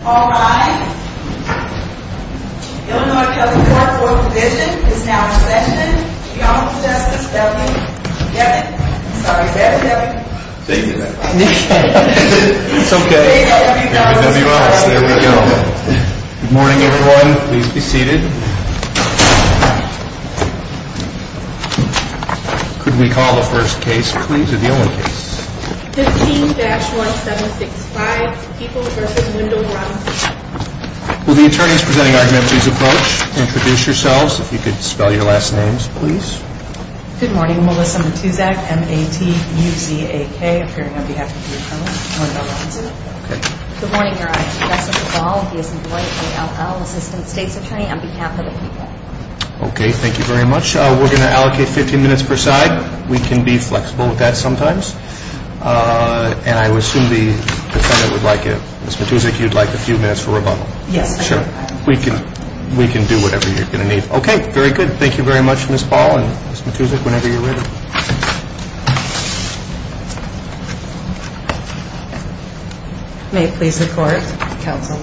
All rise. Illinois County Court of Oral Provision is now in session. Your Honorable Justice W. Devin. Sorry, Devin Devin. Thank you, ma'am. It's okay. W. Ellis, there we go. Good morning, everyone. Please be seated. Could we call the first case, please? Or the only case? 15-1765, Peoples v. Wendell Brownson. Will the attorneys presenting argument please approach and introduce yourselves. If you could spell your last names, please. Good morning. Melissa Matuzak, M-A-T-U-Z-A-K, appearing on behalf of the Attorney General, Wendell Brownson. Good morning, Your Honor. Justin Duvall. He is an employee, A-L-L, Assistant State's Attorney on behalf of the Peoples. Okay. Thank you very much. We're going to allocate 15 minutes per side. We can be flexible with that sometimes. And I would assume the defendant would like it. Ms. Matuzak, you'd like a few minutes for rebuttal? Yes. Sure. We can do whatever you're going to need. Okay. Very good. Thank you very much, Ms. Ball and Ms. Matuzak, whenever you're ready. May it please the Court, counsel.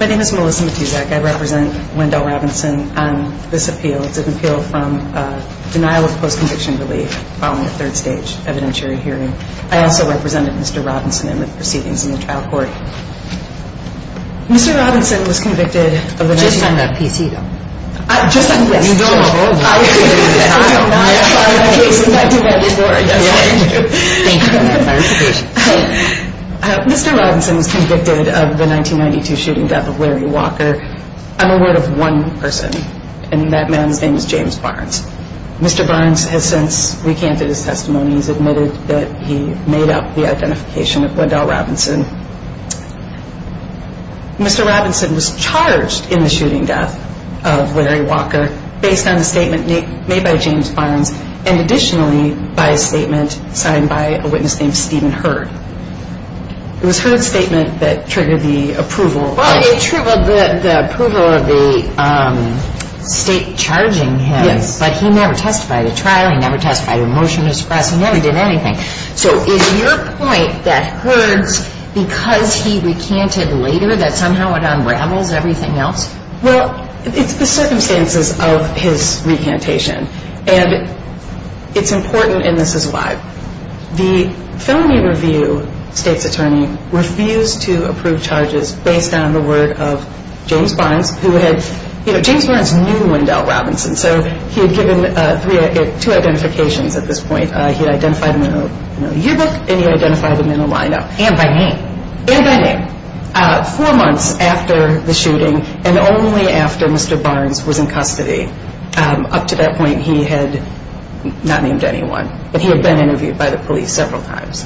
My name is Melissa Matuzak. I represent Wendell Robinson on this appeal. It's an appeal from denial of post-conviction relief following a third stage evidentiary hearing. I also represented Mr. Robinson in the proceedings in the trial court. Mr. Robinson was convicted of the 1992 shooting death of Larry Walker. I'm aware of one person, and that man's name is James Barnes. Mr. Barnes has since recanted his testimony. He's admitted that he made up the identification of Wendell Robinson. Mr. Robinson was charged in the shooting death of Larry Walker based on a statement made by James Barnes and additionally by a statement signed by a witness named Stephen Hurd. It was Hurd's statement that triggered the approval. Well, it triggered the approval of the state charging him. Yes. But he never testified at trial. He never testified at a motion to suppress. He never did anything. So is your point that Hurd's, because he recanted later, that somehow it unravels everything else? Well, it's the circumstances of his recantation. And it's important, and this is why. The felony review state's attorney refused to approve charges based on the word of James Barnes, who had, you know, James Barnes knew Wendell Robinson, so he had given two identifications at this point. He had identified him in a yearbook, and he identified him in a line-up. And by name. And by name. Four months after the shooting and only after Mr. Barnes was in custody. Up to that point, he had not named anyone, but he had been interviewed by the police several times.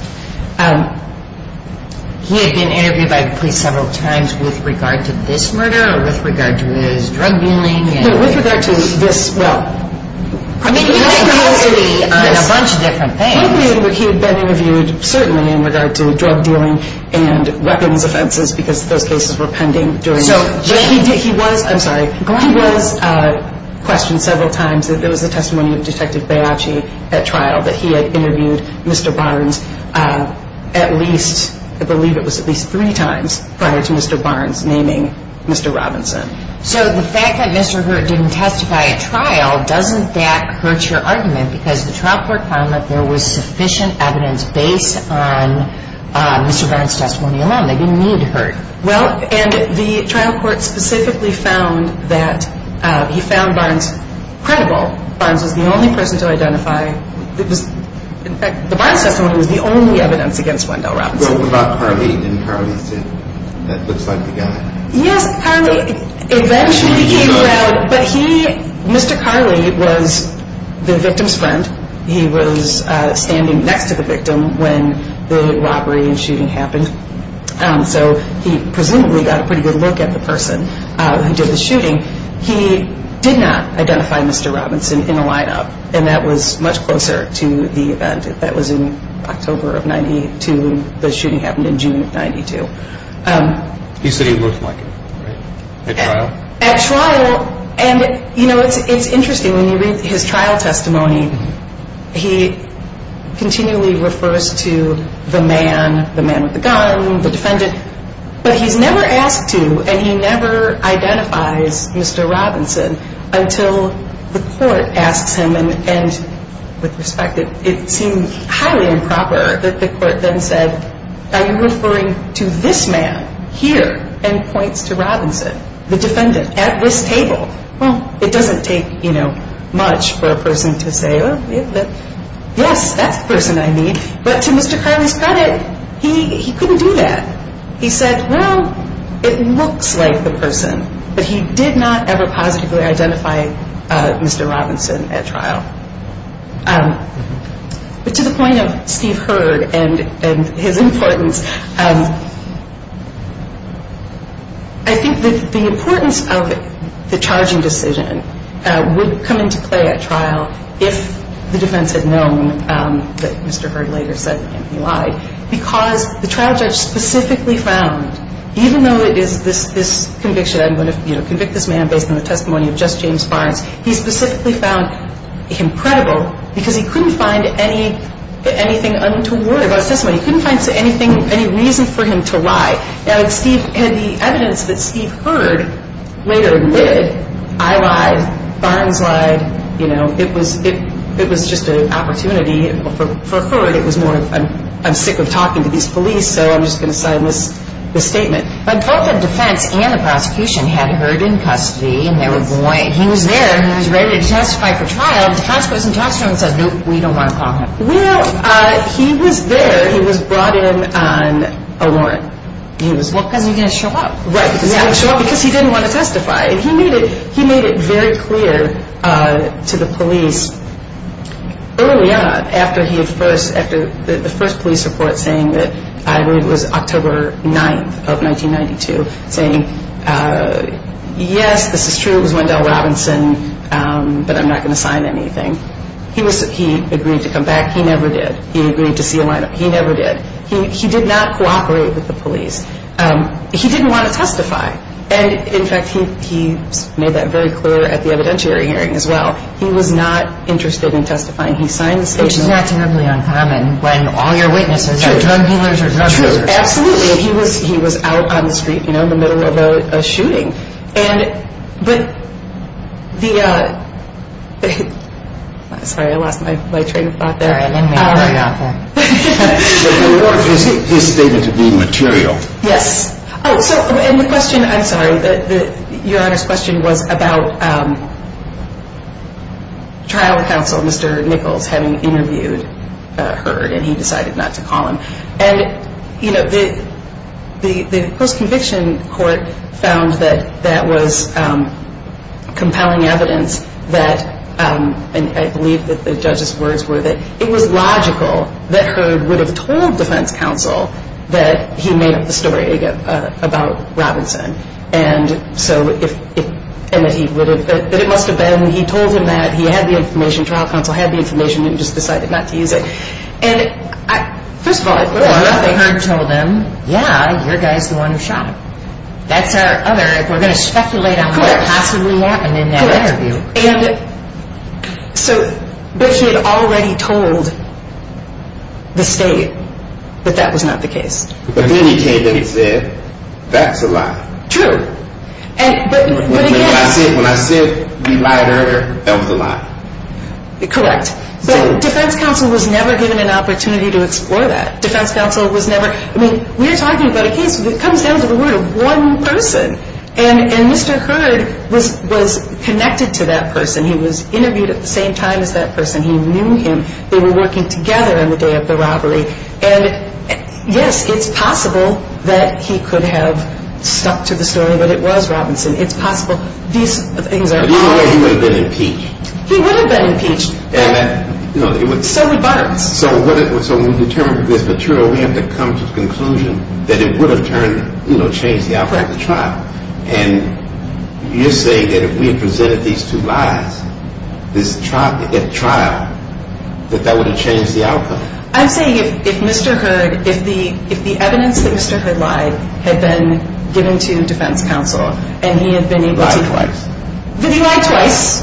He had been interviewed by the police several times with regard to this murder or with regard to his drug dealing? No, with regard to this, well. I mean, he had been interviewed on a bunch of different things. He had been interviewed certainly in regard to drug dealing and weapons offenses because those cases were pending. I'm sorry. Glenn was questioned several times that there was a testimony of Detective Baiocchi at trial, that he had interviewed Mr. Barnes at least, I believe it was at least three times prior to Mr. Barnes naming Mr. Robinson. So the fact that Mr. Hurt didn't testify at trial, doesn't that hurt your argument? Because the trial court found that there was sufficient evidence based on Mr. Barnes' testimony alone. They didn't need Hurt. Well, and the trial court specifically found that he found Barnes credible. Barnes was the only person to identify. In fact, the Barnes testimony was the only evidence against Wendell Robinson. What about Carly? Didn't Carly say that looks like the guy? Yes, Carly eventually came around, but he, Mr. Carly was the victim's friend. He was standing next to the victim when the robbery and shooting happened. So he presumably got a pretty good look at the person who did the shooting. He did not identify Mr. Robinson in a lineup, and that was much closer to the event. That was in October of 92. The shooting happened in June of 92. You said he looked like him, right? At trial? At trial. And, you know, it's interesting. When you read his trial testimony, he continually refers to the man, the man with the gun, the defendant. But he's never asked to, and he never identifies Mr. Robinson until the court asks him. And with respect, it seemed highly improper that the court then said, are you referring to this man here? And points to Robinson, the defendant, at this table. Well, it doesn't take, you know, much for a person to say, yes, that's the person I need. But to Mr. Carly's credit, he couldn't do that. He said, well, it looks like the person, but he did not ever positively identify Mr. Robinson at trial. But to the point of Steve Hurd and his importance, I think that the importance of the charging decision would come into play at trial if the defense had known that Mr. Hurd later said that he lied. Because the trial judge specifically found, even though it is this conviction, I'm going to convict this man based on the testimony of just James Barnes, he specifically found him credible because he couldn't find anything untoward about his testimony. He couldn't find anything, any reason for him to lie. Now, the evidence that Steve Hurd later did, I lied, Barnes lied, you know, it was just an opportunity. For Hurd, it was more, I'm sick of talking to these police, so I'm just going to sign this statement. But both the defense and the prosecution had Hurd in custody, and they were going. He was there, and he was ready to testify for trial. The tax person talks to him and says, no, we don't want to call him. Well, he was there. He was brought in on a warrant. Well, because he didn't show up. Right, because he didn't show up, because he didn't want to testify. And he made it very clear to the police early on after the first police report saying that, I believe it was October 9th of 1992, saying, yes, this is true, it was Wendell Robinson, but I'm not going to sign anything. He agreed to come back. He never did. He agreed to see a lineup. He never did. He did not cooperate with the police. He didn't want to testify. And, in fact, he made that very clear at the evidentiary hearing as well. He was not interested in testifying. He signed the statement. Which is not terribly uncommon when all your witnesses are drug dealers or drug users. Absolutely. He was out on the street, you know, in the middle of a shooting. And, but the, sorry, I lost my train of thought there. Sorry, I didn't mean to cut you off there. But the warrant is stated to be material. Yes. Oh, so, and the question, I'm sorry, Your Honor's question was about trial counsel, Mr. Nichols, having interviewed Heard, and he decided not to call him. And, you know, the post-conviction court found that that was compelling evidence that, and I believe that the judge's words were that it was logical that Heard would have told defense counsel that he made up the story about Robinson. And so if, and that he would have, that it must have been, he told him that he had the information, trial counsel had the information, and he just decided not to use it. And, first of all, I believe Heard told him, yeah, your guy's the one who shot him. That's our other, we're going to speculate on what possibly happened in that interview. And, so, but he had already told the state that that was not the case. But then he came in and said, that's a lie. True. When I said we lied to Heard, that was a lie. Correct. But defense counsel was never given an opportunity to explore that. Defense counsel was never, I mean, we're talking about a case that comes down to the word of one person. And Mr. Heard was connected to that person. He was interviewed at the same time as that person. He knew him. They were working together on the day of the robbery. And, yes, it's possible that he could have stuck to the story, but it was Robinson. It's possible. These things are possible. He would have been impeached. He would have been impeached. So would Byron. So when we determine this material, we have to come to the conclusion that it would have changed the outcome of the trial. And you're saying that if we had presented these two lies, this trial, that that would have changed the outcome. I'm saying if Mr. Heard, if the evidence that Mr. Heard lied had been given to defense counsel and he had been able to. Lied twice. That he lied twice,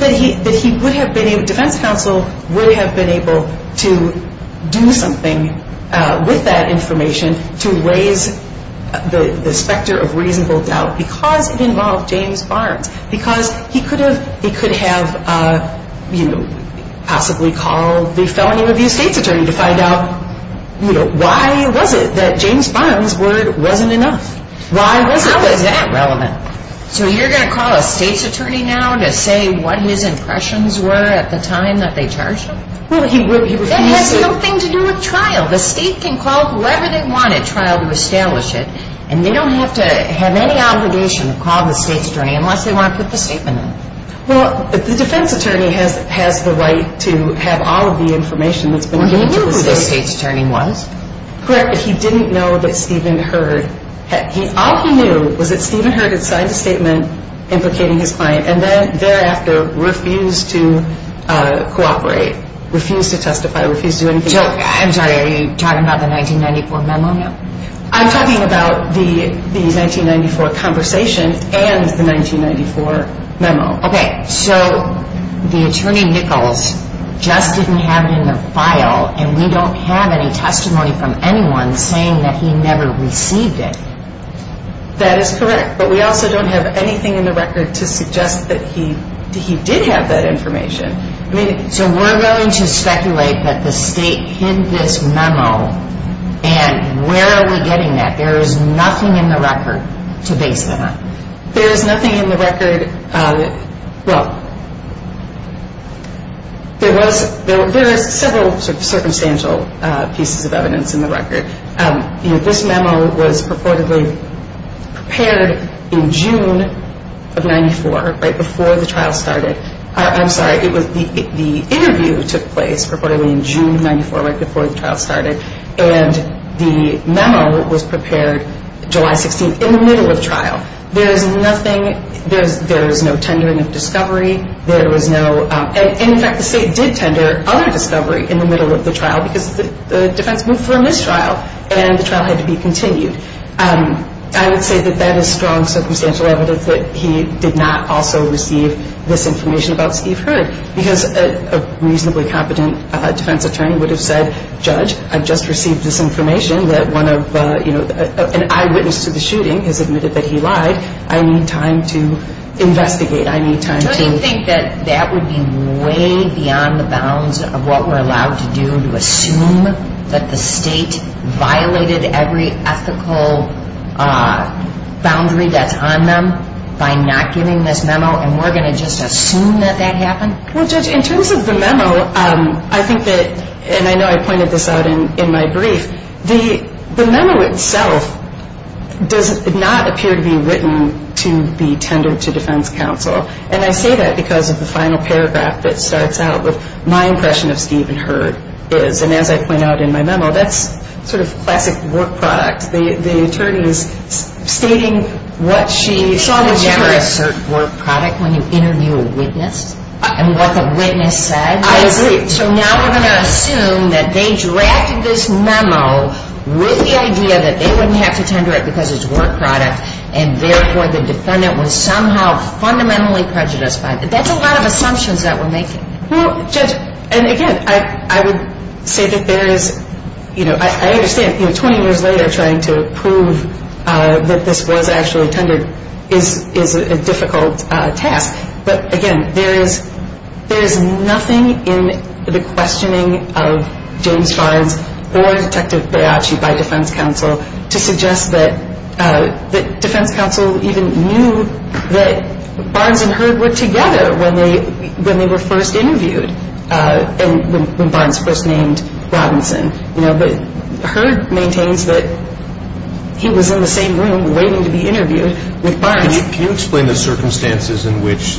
that he would have been able, defense counsel would have been able to do something with that information to raise the specter of reasonable doubt because it involved James Barnes, because he could have possibly called the felony review state's attorney to find out why was it that James Barnes' word wasn't enough? How is that relevant? So you're going to call a state's attorney now to say what his impressions were at the time that they charged him? That has nothing to do with trial. The state can call whoever they want at trial to establish it, and they don't have to have any obligation to call the state's attorney unless they want to put the statement in. Well, the defense attorney has the right to have all of the information that's been given to the state. Well, he knew who the state's attorney was. Correct, but he didn't know that Stephen Heard. All he knew was that Stephen Heard had signed a statement implicating his client and then thereafter refused to cooperate, refused to testify, refused to do anything. Jill, I'm sorry, are you talking about the 1994 memo now? I'm talking about the 1994 conversation and the 1994 memo. Okay, so the attorney Nichols just didn't have it in the file, and we don't have any testimony from anyone saying that he never received it. That is correct, but we also don't have anything in the record to suggest that he did have that information. So we're going to speculate that the state hid this memo, and where are we getting that? There is nothing in the record to base that on. There is nothing in the record. Well, there is several sort of circumstantial pieces of evidence in the record. This memo was purportedly prepared in June of 1994, right before the trial started. I'm sorry, the interview took place purportedly in June of 1994, right before the trial started, and the memo was prepared July 16th in the middle of trial. There is nothing, there is no tendering of discovery. There was no, and in fact the state did tender other discovery in the middle of the trial because the defense moved for a mistrial, and the trial had to be continued. I would say that that is strong circumstantial evidence that he did not also receive this information about Steve Heard, because a reasonably competent defense attorney would have said, Judge, I've just received this information that one of, you know, an eyewitness to the shooting has admitted that he lied. I need time to investigate, I need time to... Don't you think that that would be way beyond the bounds of what we're allowed to do when you assume that the state violated every ethical boundary that's on them by not giving this memo, and we're going to just assume that that happened? Well, Judge, in terms of the memo, I think that, and I know I pointed this out in my brief, the memo itself does not appear to be written to be tendered to defense counsel, and I say that because of the final paragraph that starts out with, my impression of Steve and Heard is, and as I point out in my memo, that's sort of classic work product. The attorney is stating what she... You never assert work product when you interview a witness, and what the witness said. I agree. So now we're going to assume that they drafted this memo with the idea that they wouldn't have to tender it because it's work product, and therefore the defendant was somehow fundamentally prejudiced by it. That's a lot of assumptions that we're making. Well, Judge, and again, I would say that there is, you know, I understand, you know, 20 years later trying to prove that this was actually tendered is a difficult task, but again, there is nothing in the questioning of James Farnes or Detective Baiocchi by defense counsel to suggest that defense counsel even knew that Barnes and Heard were together when they were first interviewed, when Barnes first named Robinson. You know, but Heard maintains that he was in the same room waiting to be interviewed with Barnes. Can you explain the circumstances in which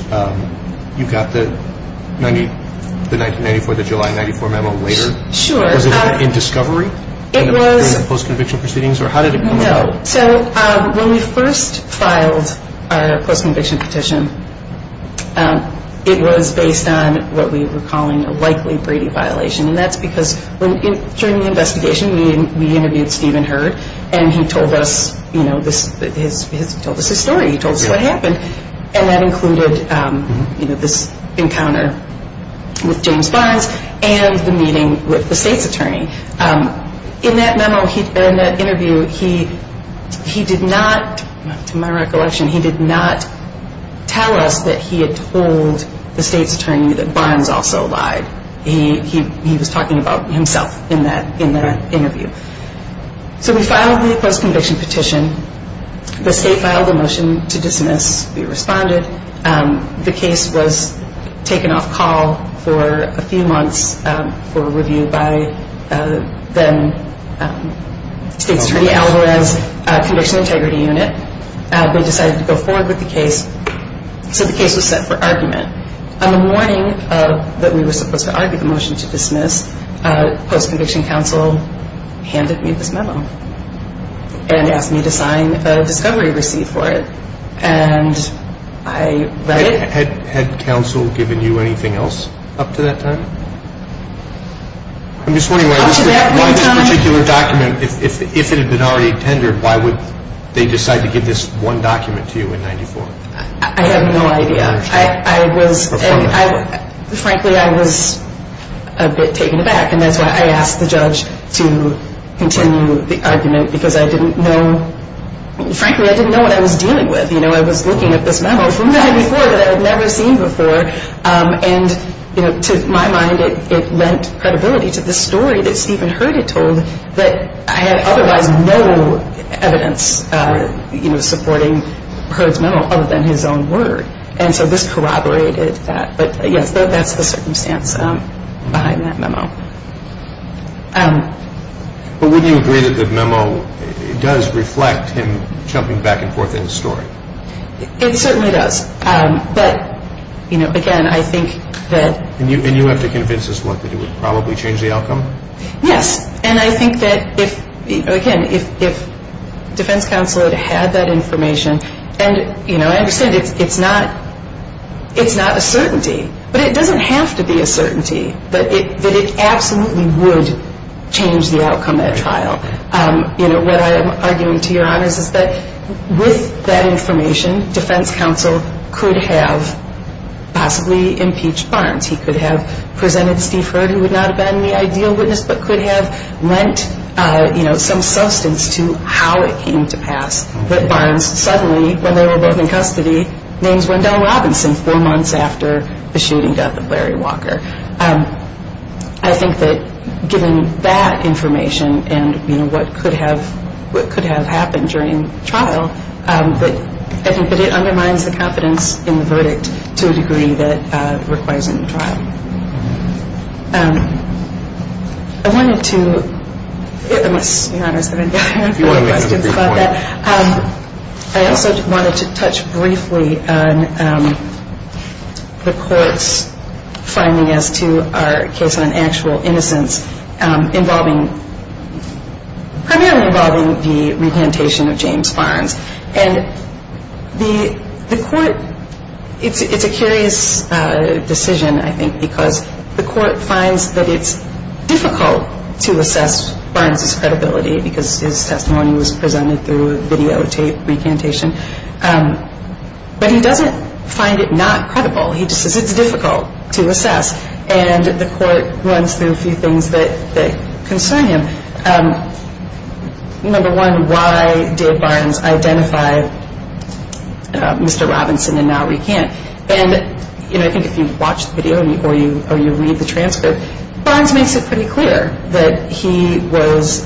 you got the 1994, the July 94 memo later? Sure. Was it in discovery? It was. Was it in post-conviction proceedings, or how did it come about? No. So when we first filed our post-conviction petition, it was based on what we were calling a likely Brady violation, and that's because during the investigation we interviewed Stephen Heard, and he told us, you know, he told us his story. He told us what happened, and that included, you know, this encounter with James Barnes and the meeting with the state's attorney. In that memo, in that interview, he did not, to my recollection, he did not tell us that he had told the state's attorney that Barnes also lied. He was talking about himself in that interview. So we filed the post-conviction petition. The state filed a motion to dismiss. We responded. The case was taken off call for a few months for review by then state's attorney, Alvarez Conditional Integrity Unit. They decided to go forward with the case. So the case was set for argument. On the morning that we were supposed to argue the motion to dismiss, post-conviction counsel handed me this memo and asked me to sign a discovery receipt for it. And I read it. Had counsel given you anything else up to that time? I'm just wondering why this particular document, if it had been already tendered, why would they decide to give this one document to you in 94? I have no idea. I was, frankly, I was a bit taken aback, and that's why I asked the judge to continue the argument because I didn't know, frankly, I didn't know what I was dealing with. I was looking at this memo from the head before that I had never seen before. And to my mind, it lent credibility to the story that Stephen Hurd had told, that I had otherwise no evidence supporting Hurd's memo other than his own word. And so this corroborated that. But wouldn't you agree that the memo does reflect him jumping back and forth in the story? It certainly does. But, you know, again, I think that. And you have to convince us what, that it would probably change the outcome? Yes. And I think that, again, if defense counsel had had that information, and, you know, I understand it's not a certainty, but it doesn't have to be a certainty that it absolutely would change the outcome at trial. You know, what I am arguing to your honors is that with that information, defense counsel could have possibly impeached Barnes. He could have presented Steve Hurd, who would not have been the ideal witness, but could have lent, you know, some substance to how it came to pass that Barnes suddenly, when they were both in custody, names Wendell Robinson four months after the shooting death of Larry Walker. I think that given that information and, you know, what could have happened during trial, I think that it undermines the confidence in the verdict to a degree that requires it in trial. I wanted to, unless your honors have any other questions about that. I also wanted to touch briefly on the court's finding as to our case on actual innocence involving, primarily involving the repantation of James Barnes. And the court, it's a curious decision, I think, because the court finds that it's difficult to assess Barnes's credibility because his testimony was presented through videotape recantation. But he doesn't find it not credible. He just says it's difficult to assess. And the court runs through a few things that concern him. Number one, why did Barnes identify Mr. Robinson and now recant? And, you know, I think if you watch the video or you read the transcript, Barnes makes it pretty clear that he was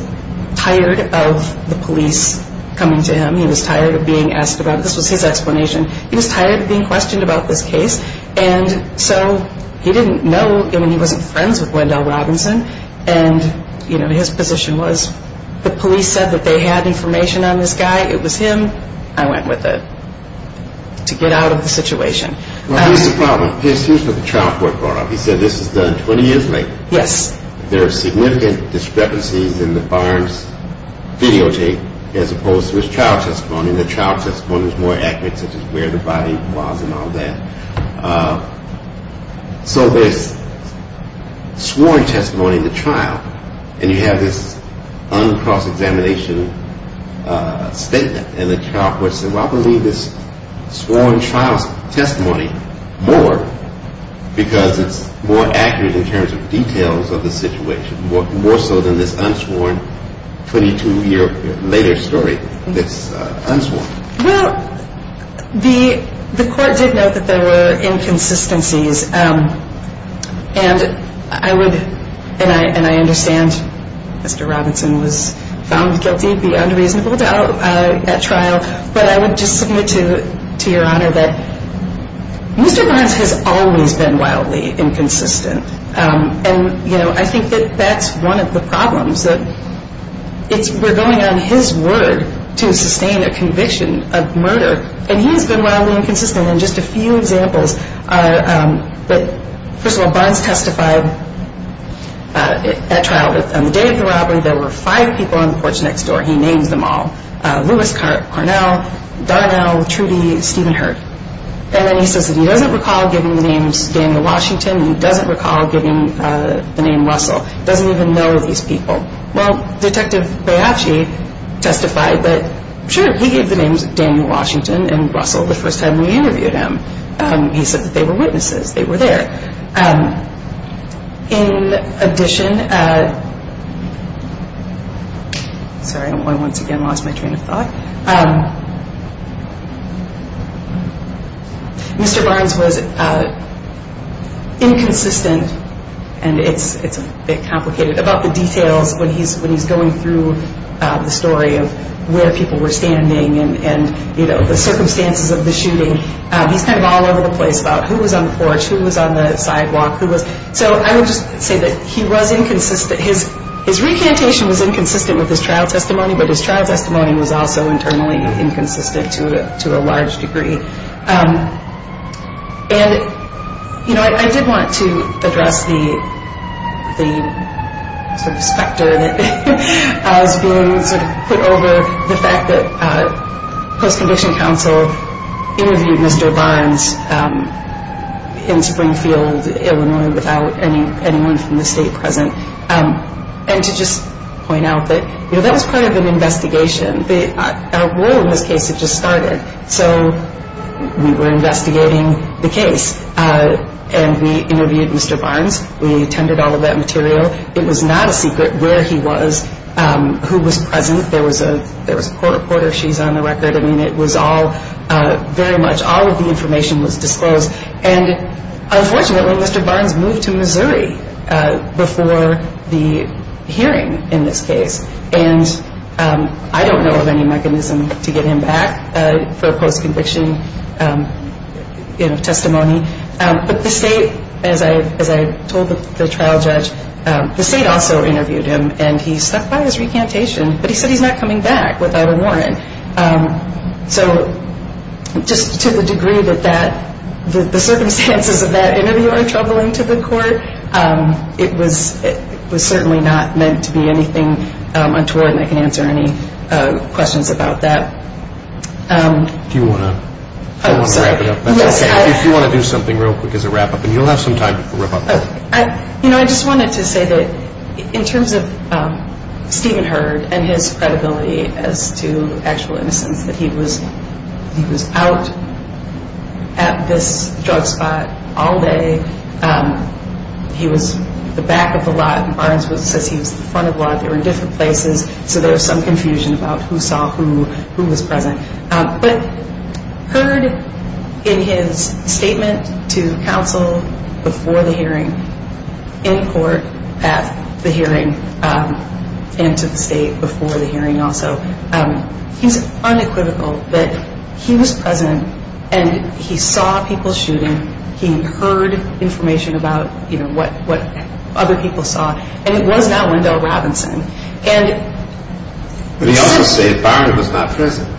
tired of the police coming to him. He was tired of being asked about it. This was his explanation. He was tired of being questioned about this case. And so he didn't know, I mean, he wasn't friends with Wendell Robinson. And, you know, his position was the police said that they had information on this guy. It was him. I went with it to get out of the situation. Well, here's the problem. Here's what the trial court brought up. He said this was done 20 years later. Yes. There are significant discrepancies in the Barnes videotape as opposed to his trial testimony. The trial testimony was more accurate, such as where the body was and all that. So there's sworn testimony in the trial, and you have this uncross-examination statement. And the trial court said, well, I believe this sworn trial testimony more because it's more accurate in terms of details of the situation, more so than this unsworn 22-year later story that's unsworn. Well, the court did note that there were inconsistencies. And I would, and I understand Mr. Robinson was found guilty beyond reasonable doubt at trial. But I would just submit to your Honor that Mr. Barnes has always been wildly inconsistent. And, you know, I think that that's one of the problems. We're going on his word to sustain a conviction of murder, and he has been wildly inconsistent. And just a few examples are, first of all, Barnes testified at trial. On the day of the robbery, there were five people on the porch next door. He names them all. Lewis Carnell, Darnell, Trudy, Stephen Hurt. And then he says that he doesn't recall giving the names Daniel Washington. He doesn't recall giving the name Russell. He doesn't even know these people. Well, Detective Baiacci testified that, sure, he gave the names Daniel Washington and Russell the first time we interviewed him. He said that they were witnesses. They were there. In addition, sorry, I once again lost my train of thought. Mr. Barnes was inconsistent, and it's a bit complicated, about the details when he's going through the story of where people were standing and, you know, the circumstances of the shooting. He's kind of all over the place about who was on the porch, who was on the sidewalk. So I would just say that he was inconsistent. His recantation was inconsistent with his trial testimony, but his trial testimony was also internally inconsistent to a large degree. And, you know, I did want to address the sort of specter that was being sort of put over the fact that post-condition counsel interviewed Mr. Barnes in Springfield, Illinois, without anyone from the state present, and to just point out that, you know, that was part of an investigation. Our war in this case had just started. So we were investigating the case, and we interviewed Mr. Barnes. We attended all of that material. It was not a secret where he was, who was present. There was a court reporter. She's on the record. I mean, it was all very much all of the information was disclosed. And unfortunately, Mr. Barnes moved to Missouri before the hearing in this case, and I don't know of any mechanism to get him back for post-conviction testimony. But the state, as I told the trial judge, the state also interviewed him, and he stuck by his recantation. But he said he's not coming back without a warrant. So just to the degree that the circumstances of that interview are troubling to the court, it was certainly not meant to be anything untoward, and I can answer any questions about that. Do you want to wrap it up? If you want to do something real quick as a wrap-up, and you'll have some time to wrap up. You know, I just wanted to say that in terms of Stephen Hurd and his credibility as to actual innocence, that he was out at this drug spot all day. He was at the back of the lot, and Barnes says he was at the front of the lot. They were in different places, so there was some confusion about who saw who, who was present. But Hurd, in his statement to counsel before the hearing, in court at the hearing, and to the state before the hearing also, he's unequivocal that he was present, and he saw people shooting. He heard information about what other people saw, and it was not Wendell Robinson. But he also said Barnes was not present.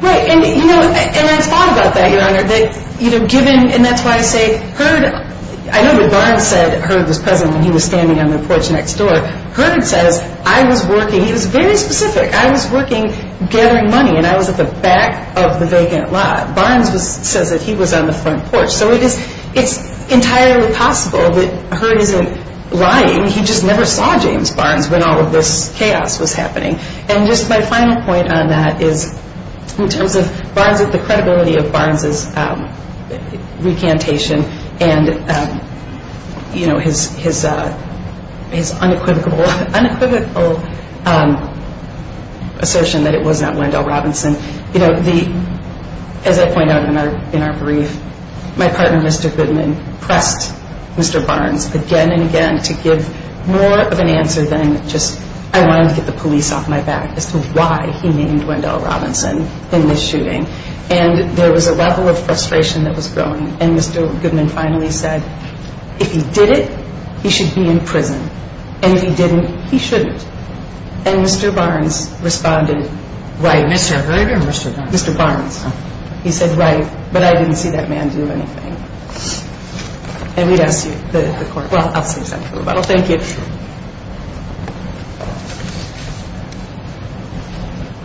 Right, and I thought about that, Your Honor. And that's why I say Hurd, I know that Barnes said Hurd was present when he was standing on the porch next door. Hurd says, I was working, he was very specific. I was working gathering money, and I was at the back of the vacant lot. Barnes says that he was on the front porch. So it's entirely possible that Hurd isn't lying. And just my final point on that is in terms of the credibility of Barnes' recantation and his unequivocal assertion that it was not Wendell Robinson, as I point out in our brief, my partner, Mr. Goodman, pressed Mr. Barnes again and again to give more of an answer than just I wanted to get the police off my back as to why he named Wendell Robinson in this shooting. And there was a level of frustration that was growing, and Mr. Goodman finally said, if he did it, he should be in prison, and if he didn't, he shouldn't. And Mr. Barnes responded, right. Mr. Hurd or Mr. Barnes? Mr. Barnes. He said, right, but I didn't see that man do anything. And we'd ask you, the court. Well, I'll say something about it. Well, thank you.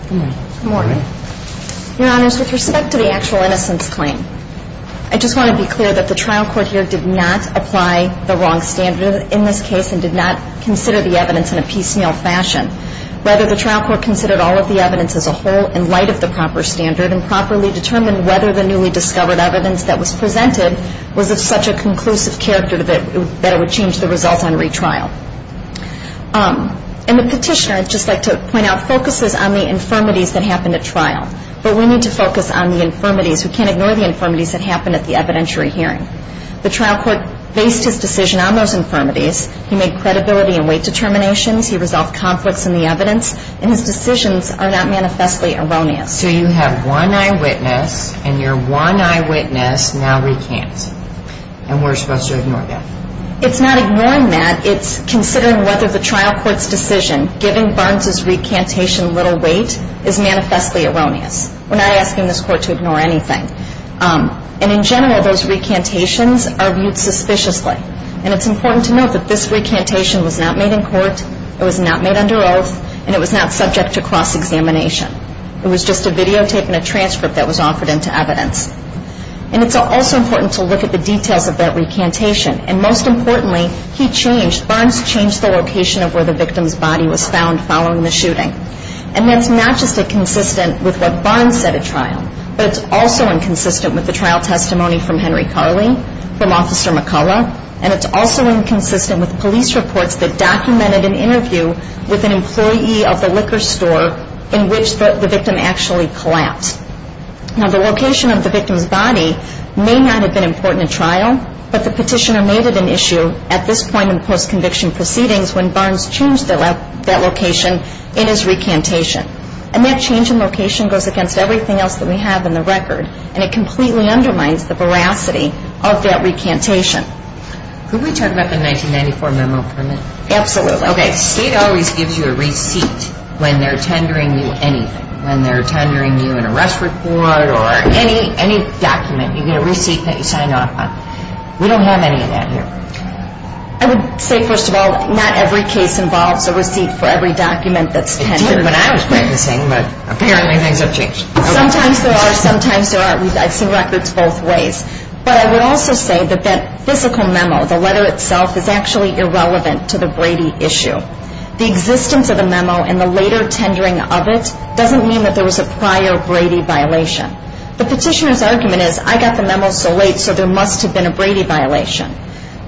Good morning. Good morning. Your Honors, with respect to the actual innocence claim, I just want to be clear that the trial court here did not apply the wrong standard in this case and did not consider the evidence in a piecemeal fashion. Rather, the trial court considered all of the evidence as a whole in light of the proper standard and properly determined whether the newly discovered evidence that was presented was of such a conclusive character that it would change the results on retrial. And the petitioner, I'd just like to point out, focuses on the infirmities that happened at trial. But we need to focus on the infirmities. We can't ignore the infirmities that happened at the evidentiary hearing. The trial court based his decision on those infirmities. He made credibility and weight determinations. He resolved conflicts in the evidence. And his decisions are not manifestly erroneous. So you have one eyewitness, and your one eyewitness now recants. And we're supposed to ignore that. It's not ignoring that. It's considering whether the trial court's decision, giving Barnes' recantation little weight, is manifestly erroneous. We're not asking this court to ignore anything. And in general, those recantations are viewed suspiciously. And it's important to note that this recantation was not made in court. It was not made under oath. And it was not subject to cross-examination. It was just a videotape and a transcript that was offered into evidence. And it's also important to look at the details of that recantation. And most importantly, he changed, Barnes changed the location of where the victim's body was found following the shooting. And that's not just inconsistent with what Barnes said at trial, but it's also inconsistent with the trial testimony from Henry Carley, from Officer McCullough, and it's also inconsistent with police reports that documented an interview with an employee of the liquor store in which the victim actually collapsed. Now, the location of the victim's body may not have been important at trial, but the petitioner made it an issue at this point in post-conviction proceedings when Barnes changed that location in his recantation. And that change in location goes against everything else that we have in the record, and it completely undermines the veracity of that recantation. Could we talk about the 1994 memo permit? Absolutely. Okay, state always gives you a receipt when they're tendering you anything, when they're tendering you an arrest report or any document. You get a receipt that you sign off on. We don't have any of that here. I would say, first of all, not every case involves a receipt for every document that's tendered. It did when I was practicing, but apparently things have changed. Sometimes there are, sometimes there aren't. I've seen records both ways. But I would also say that that physical memo, the letter itself, is actually irrelevant to the Brady issue. The existence of the memo and the later tendering of it doesn't mean that there was a prior Brady violation. The petitioner's argument is, I got the memo so late so there must have been a Brady violation.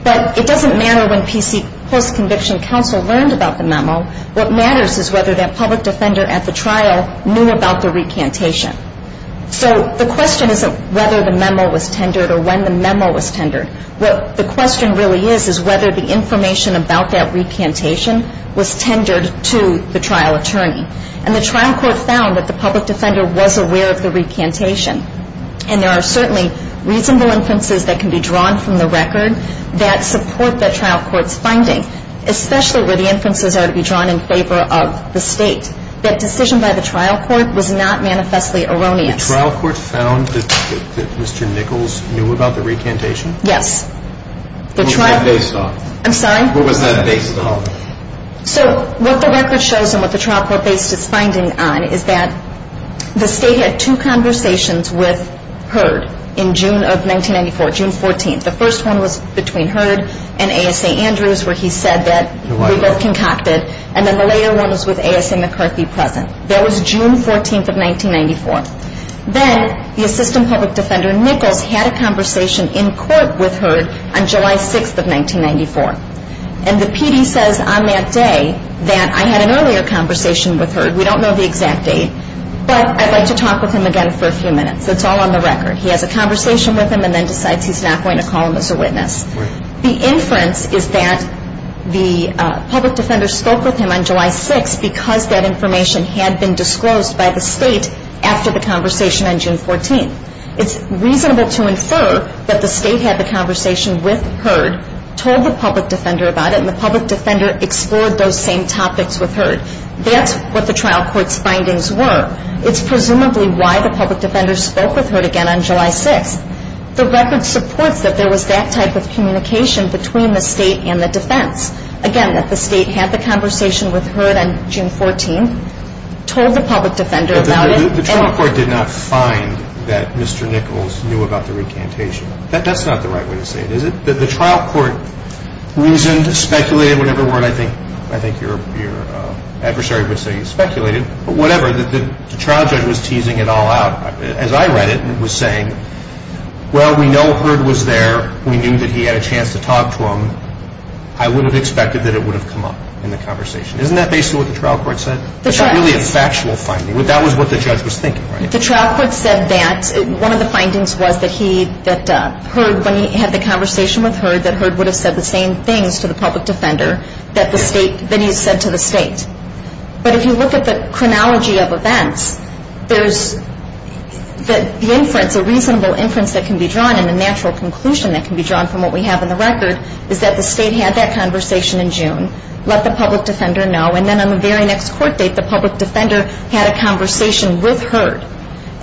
But it doesn't matter when PC post-conviction counsel learned about the memo. What matters is whether that public defender at the trial knew about the recantation. So the question isn't whether the memo was tendered or when the memo was tendered. What the question really is, is whether the information about that recantation was tendered to the trial attorney. And the trial court found that the public defender was aware of the recantation. And there are certainly reasonable inferences that can be drawn from the record that support that trial court's finding, especially where the inferences are to be drawn in favor of the state. That decision by the trial court was not manifestly erroneous. The trial court found that Mr. Nichols knew about the recantation? Yes. What was that based on? I'm sorry? What was that based on? So what the record shows and what the trial court based its finding on is that the state had two conversations with H.E.R.D. in June of 1994, June 14th. The first one was between H.E.R.D. and A.S.A. Andrews where he said that we both concocted. And then the later one was with A.S.A. McCarthy present. That was June 14th of 1994. Then the assistant public defender, Nichols, had a conversation in court with H.E.R.D. on July 6th of 1994. And the PD says on that day that I had an earlier conversation with H.E.R.D. We don't know the exact date, but I'd like to talk with him again for a few minutes. It's all on the record. He has a conversation with him and then decides he's not going to call him as a witness. The inference is that the PD spoke with him on July 6th because that information had been disclosed by the state after the conversation on June 14th. It's reasonable to infer that the state had the conversation with H.E.R.D., told the PD about it, and the PD explored those same topics with H.E.R.D. That's what the trial court's findings were. It's presumably why the PD spoke with H.E.R.D. again on July 6th. The record supports that there was that type of communication between the state and the defense. Again, that the state had the conversation with H.E.R.D. on June 14th, told the PD about it. The trial court did not find that Mr. Nichols knew about the recantation. That's not the right way to say it, is it? The trial court reasoned, speculated, whatever word I think your adversary would say you speculated, but whatever, the trial judge was teasing it all out, as I read it, and was saying, well, we know H.E.R.D. was there. We knew that he had a chance to talk to him. I would have expected that it would have come up in the conversation. Isn't that basically what the trial court said? It's not really a factual finding. That was what the judge was thinking, right? The trial court said that. One of the findings was that he, that H.E.R.D., when he had the conversation with H.E.R.D., that H.E.R.D. would have said the same things to the public defender that the state, that he said to the state. But if you look at the chronology of events, there's the inference, a reasonable inference that can be drawn, and a natural conclusion that can be drawn from what we have in the record, is that the state had that conversation in June, let the public defender know, and then on the very next court date, the public defender had a conversation with H.E.R.D.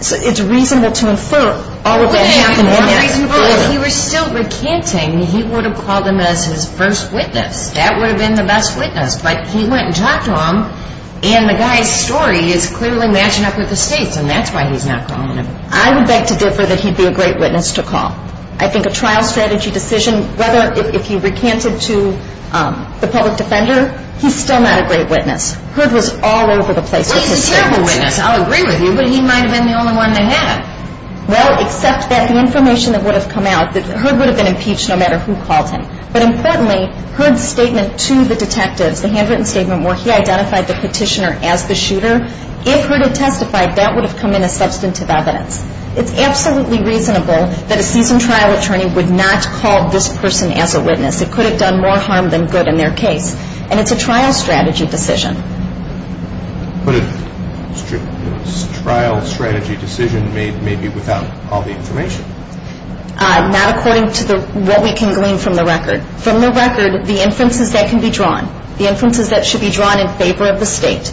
So it's reasonable to infer all of that happened the next day. Well, if he were still recanting, he would have called him as his first witness. That would have been the best witness. But he went and talked to him, and the guy's story is clearly matching up with the state's, and that's why he's not calling him. I would beg to differ that he'd be a great witness to call. I think a trial strategy decision, whether if he recanted to the public defender, he's still not a great witness. H.E.R.D. was all over the place with his statements. Well, he's a terrible witness. I'll agree with you, but he might have been the only one to have. Well, except that the information that would have come out, that H.E.R.D. would have been impeached no matter who called him. But importantly, H.E.R.D.'s statement to the detectives, the handwritten statement where he identified the petitioner as the shooter, if H.E.R.D. had testified, that would have come in as substantive evidence. It's absolutely reasonable that a seasoned trial attorney would not call this person as a witness. It could have done more harm than good in their case, and it's a trial strategy decision. But a trial strategy decision may be without all the information. Not according to what we can glean from the record. From the record, the inferences that can be drawn, the inferences that should be drawn in favor of the state,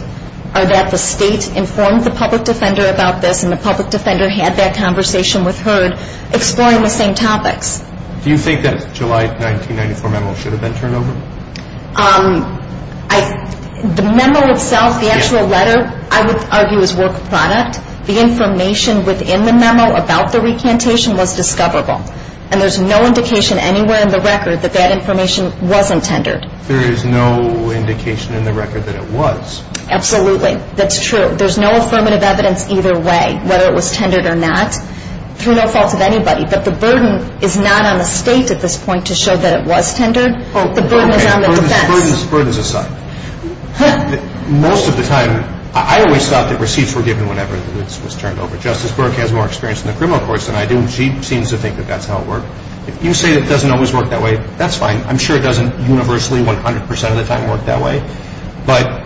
are that the state informed the public defender about this and the public defender had that conversation with H.E.R.D. exploring the same topics. Do you think that July 1994 memo should have been turned over? The memo itself, the actual letter, I would argue is work product. The information within the memo about the recantation was discoverable, and there's no indication anywhere in the record that that information wasn't tendered. There is no indication in the record that it was. Absolutely. That's true. There's no affirmative evidence either way, whether it was tendered or not, through no fault of anybody. But the burden is not on the state at this point to show that it was tendered. The burden is on the defense. Burdens aside, most of the time, I always thought that receipts were given whenever it was turned over. Justice Burke has more experience in the criminal courts than I do, and she seems to think that that's how it worked. If you say it doesn't always work that way, that's fine. I'm sure it doesn't universally 100 percent of the time work that way. But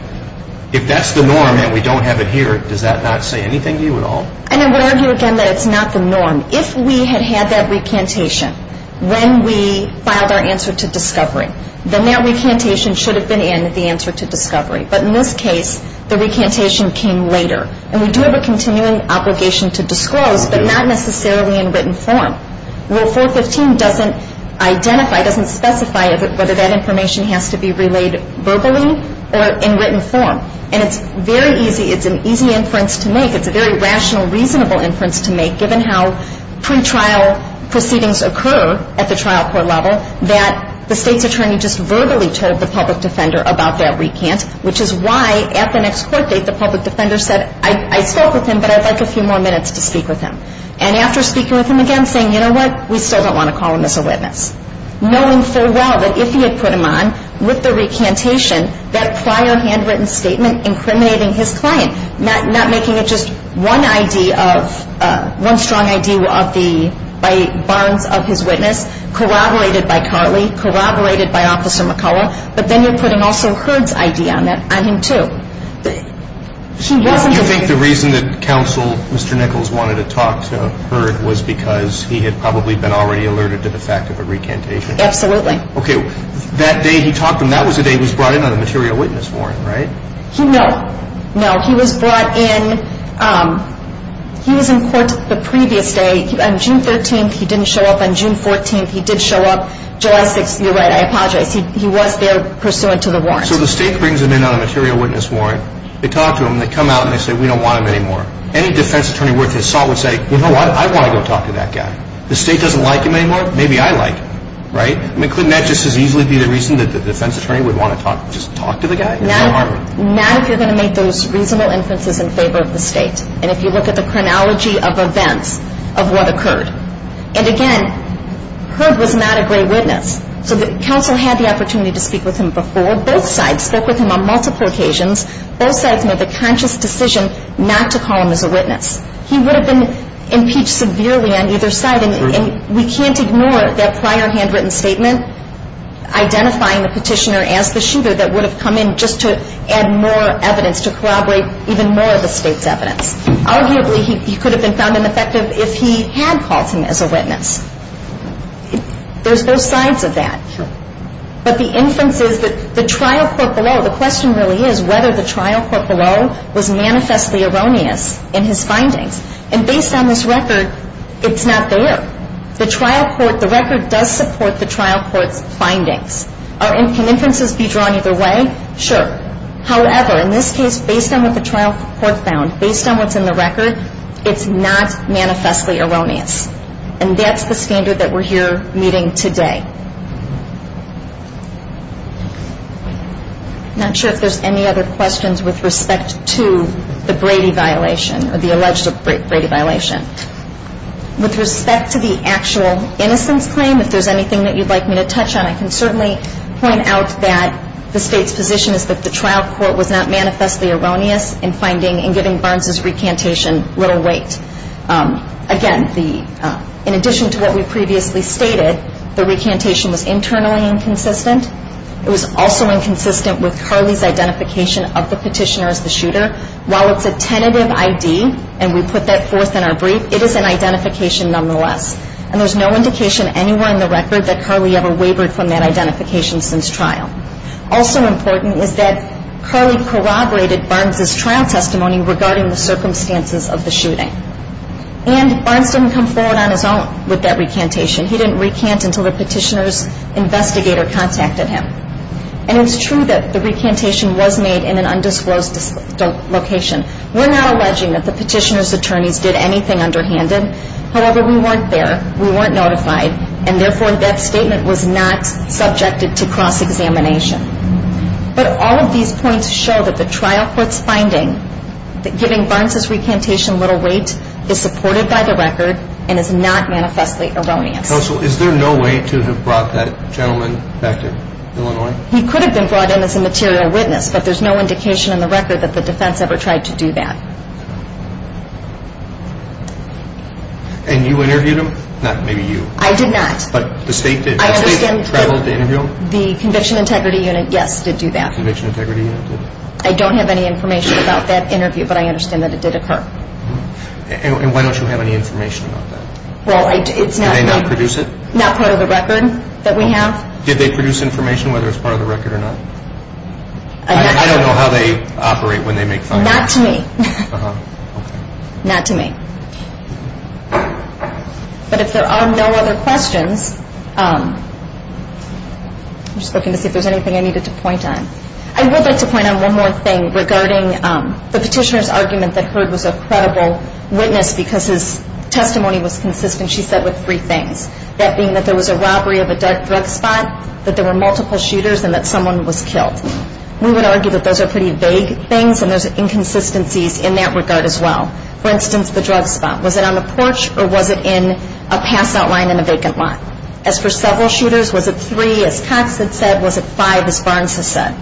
if that's the norm and we don't have it here, does that not say anything to you at all? And I would argue again that it's not the norm. If we had had that recantation when we filed our answer to discovery, then that recantation should have been in the answer to discovery. But in this case, the recantation came later. And we do have a continuing obligation to disclose, but not necessarily in written form. Rule 415 doesn't identify, doesn't specify whether that information has to be relayed verbally or in written form. And it's very easy. It's an easy inference to make. It's a very rational, reasonable inference to make, given how pre-trial proceedings occur at the trial court level, that the state's attorney just verbally told the public defender about that recant, which is why at the next court date the public defender said, I spoke with him, but I'd like a few more minutes to speak with him. And after speaking with him again, saying, you know what, we still don't want to call him as a witness, knowing full well that if he had put him on with the recantation, that prior handwritten statement incriminating his client, not making it just one ID of, one strong ID of the, by Barnes of his witness, corroborated by Carley, corroborated by Officer McCullough, but then you're putting also Hurd's ID on him too. He wasn't- Do you think the reason that counsel, Mr. Nichols, wanted to talk to Hurd was because he had probably been already alerted to the fact of a recantation? Absolutely. Okay, that day he talked to him, that was the day he was brought in on a material witness warrant, right? No, no, he was brought in, he was in court the previous day. On June 13th, he didn't show up. On June 14th, he did show up. July 6th, you're right, I apologize. He was there pursuant to the warrant. So the state brings him in on a material witness warrant, they talk to him, they come out and they say, we don't want him anymore. Any defense attorney worth his salt would say, you know what, I want to go talk to that guy. The state doesn't like him anymore, maybe I like him, right? I mean, couldn't that just as easily be the reason that the defense attorney would want to talk, talk to the guy? Not if you're going to make those reasonable inferences in favor of the state, and if you look at the chronology of events of what occurred. And again, Hurd was not a great witness. So the counsel had the opportunity to speak with him before. Both sides spoke with him on multiple occasions. Both sides made the conscious decision not to call him as a witness. He would have been impeached severely on either side, and we can't ignore that prior handwritten statement identifying the petitioner as the shooter that would have come in just to add more evidence, to corroborate even more of the state's evidence. Arguably, he could have been found ineffective if he had called him as a witness. There's both sides of that. But the inference is that the trial court below, the question really is whether the trial court below was manifestly erroneous in his findings. And based on this record, it's not there. The trial court, the record does support the trial court's findings. Can inferences be drawn either way? Sure. However, in this case, based on what the trial court found, based on what's in the record, it's not manifestly erroneous. And that's the standard that we're here meeting today. I'm not sure if there's any other questions with respect to the Brady violation or the alleged Brady violation. With respect to the actual innocence claim, if there's anything that you'd like me to touch on, I can certainly point out that the state's position is that the trial court was not manifestly erroneous in finding and giving Barnes' recantation little weight. Again, in addition to what we previously stated, the recantation was internally inconsistent. It was also inconsistent with Carley's identification of the petitioner as the shooter. While it's a tentative ID, and we put that forth in our brief, it is an identification nonetheless. And there's no indication anywhere in the record that Carley ever wavered from that identification since trial. Also important is that Carley corroborated Barnes' trial testimony regarding the circumstances of the shooting. And Barnes didn't come forward on his own with that recantation. He didn't recant until the petitioner's investigator contacted him. And it's true that the recantation was made in an undisclosed location. We're not alleging that the petitioner's attorneys did anything underhanded. However, we weren't there. We weren't notified. And therefore, that statement was not subjected to cross-examination. But all of these points show that the trial court's finding that giving Barnes' recantation little weight is supported by the record and is not manifestly erroneous. Counsel, is there no way to have brought that gentleman back to Illinois? He could have been brought in as a material witness, but there's no indication in the record that the defense ever tried to do that. And you interviewed him? Not maybe you. I did not. But the state did. The state traveled to interview him? The Conviction Integrity Unit, yes, did do that. The Conviction Integrity Unit did. I don't have any information about that interview, but I understand that it did occur. And why don't you have any information about that? Well, I do. Did they not produce it? Not part of the record that we have. Did they produce information, whether it's part of the record or not? I don't know how they operate when they make findings. Not to me. Not to me. But if there are no other questions, I'm just looking to see if there's anything I needed to point on. I would like to point on one more thing regarding the petitioner's argument that Heard was a credible witness because his testimony was consistent, she said, with three things, that being that there was a robbery of a drug spot, that there were multiple shooters, and that someone was killed. We would argue that those are pretty vague things, and there's inconsistencies in that regard as well. For instance, the drug spot. Was it on the porch or was it in a passout line in a vacant lot? As for several shooters, was it three, as Cox had said, was it five, as Barnes has said?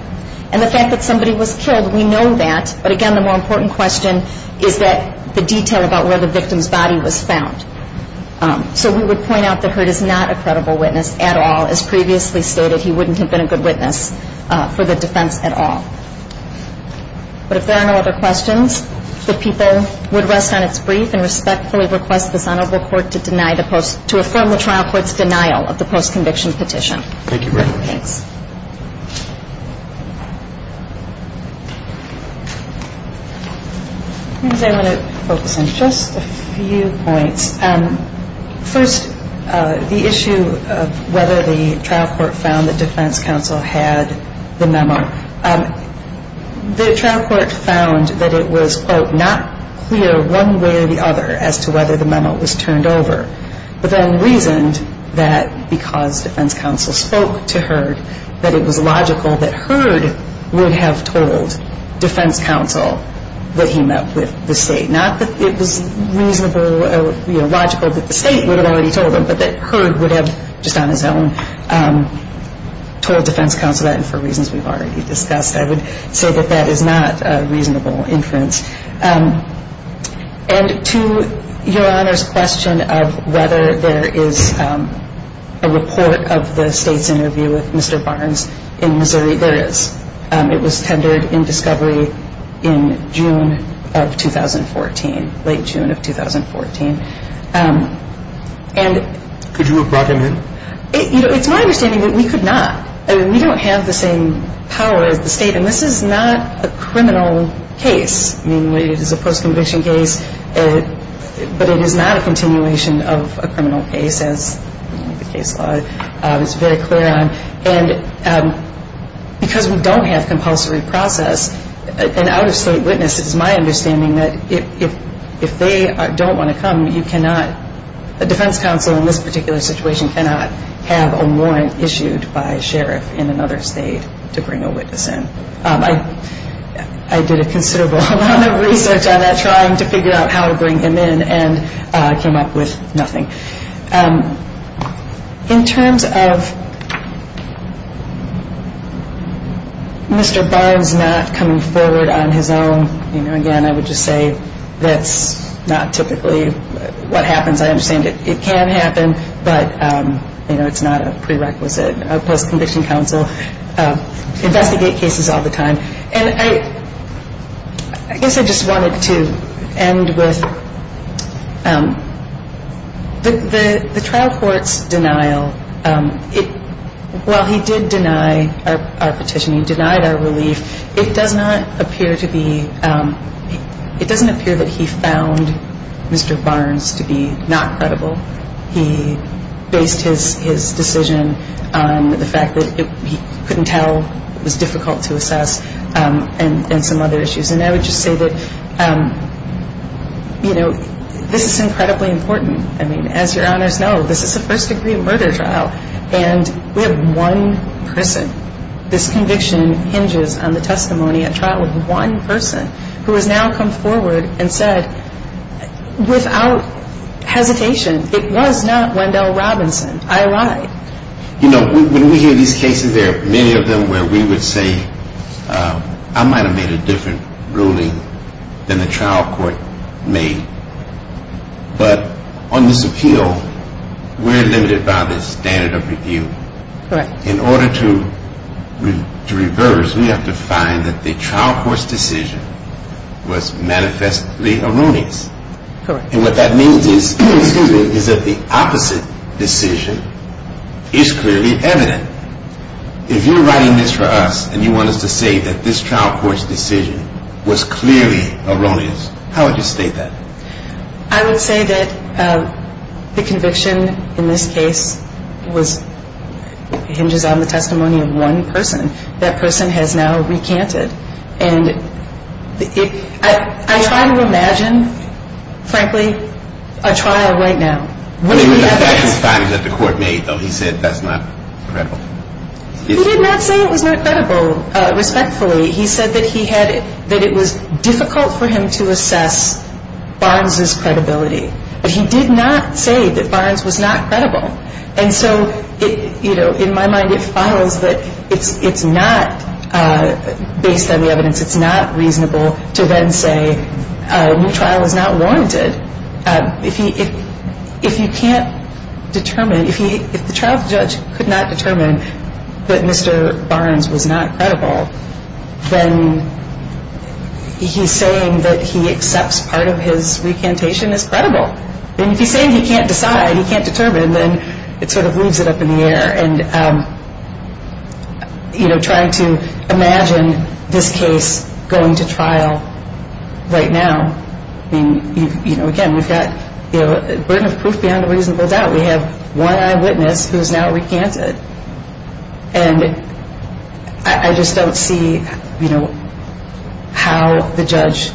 And the fact that somebody was killed, we know that. But, again, the more important question is the detail about where the victim's body was found. So we would point out that Heard is not a credible witness at all. As previously stated, he wouldn't have been a good witness for the defense at all. But if there are no other questions, the people would rest on its brief and respectfully request this Honorable Court to affirm the trial court's denial of the post-conviction petition. Thank you very much. Thanks. I want to focus on just a few points. First, the issue of whether the trial court found that defense counsel had the memo. The trial court found that it was, quote, not clear one way or the other as to whether the memo was turned over, but then reasoned that because defense counsel spoke to Heard, that it was logical that Heard would have told defense counsel that he met with the State. Not that it was reasonable or logical that the State would have already told him, but that Heard would have just on his own told defense counsel that, and for reasons we've already discussed, I would say that that is not a reasonable inference. And to Your Honor's question of whether there is a report of the State's interview with Mr. Barnes in Missouri, there is. It was tendered in discovery in June of 2014, late June of 2014. Could you have brought him in? It's my understanding that we could not. I mean, we don't have the same power as the State, and this is not a criminal case. I mean, it is a post-conviction case, but it is not a continuation of a criminal case, in the sense the case law is very clear on. And because we don't have compulsory process, an out-of-State witness, it is my understanding that if they don't want to come, you cannot, a defense counsel in this particular situation cannot have a warrant issued by a sheriff in another State to bring a witness in. I did a considerable amount of research on that, trying to figure out how to bring him in, and I came up with nothing. In terms of Mr. Barnes not coming forward on his own, you know, again, I would just say that's not typically what happens. I understand it can happen, but, you know, it's not a prerequisite. A post-conviction counsel investigate cases all the time. And I guess I just wanted to end with the trial court's denial. While he did deny our petition, he denied our relief, it does not appear to be – it doesn't appear that he found Mr. Barnes to be not credible. He based his decision on the fact that he couldn't tell, it was difficult to assess, and some other issues. And I would just say that, you know, this is incredibly important. I mean, as your honors know, this is a first-degree murder trial, and we have one person. This conviction hinges on the testimony at trial of one person who has now come forward and said, without hesitation, it was not Wendell Robinson. I lied. You know, when we hear these cases, there are many of them where we would say, I might have made a different ruling than the trial court made. But on this appeal, we're limited by the standard of review. Correct. In order to reverse, we have to find that the trial court's decision was manifestly a ruling. Correct. And what that means is that the opposite decision is clearly evident. If you're writing this for us and you want us to say that this trial court's decision was clearly erroneous, how would you state that? I would say that the conviction in this case hinges on the testimony of one person. That person has now recanted. And I try to imagine, frankly, a trial right now. One of the efforts that the court made, though, he said that's not credible. He did not say it was not credible. Respectfully, he said that it was difficult for him to assess Barnes's credibility. But he did not say that Barnes was not credible. And so, you know, in my mind, it follows that it's not based on the evidence. It's not reasonable to then say a new trial is not warranted. If you can't determine, if the trial judge could not determine that Mr. Barnes was not credible, then he's saying that he accepts part of his recantation as credible. And if he's saying he can't decide, he can't determine, then it sort of leaves it up in the air. And, you know, trying to imagine this case going to trial right now, I mean, you know, again, we've got a burden of proof beyond a reasonable doubt. We have one eyewitness who has now recanted. And I just don't see, you know, how the judge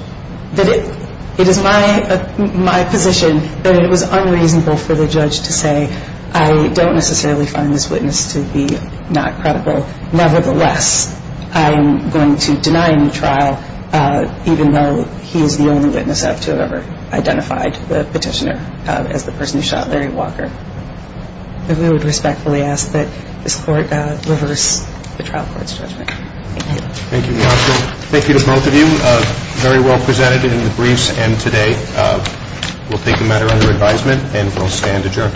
did it. It is my position that it was unreasonable for the judge to say, I don't necessarily find this witness to be not credible. Nevertheless, I'm going to deny a new trial, even though he is the only witness to have ever identified the petitioner as the person who shot Larry Walker. And we would respectfully ask that this Court reverse the trial court's judgment. Thank you. Thank you. Thank you to both of you. Very well presented in the briefs and today. We'll take a matter under advisement and we'll stand adjourned.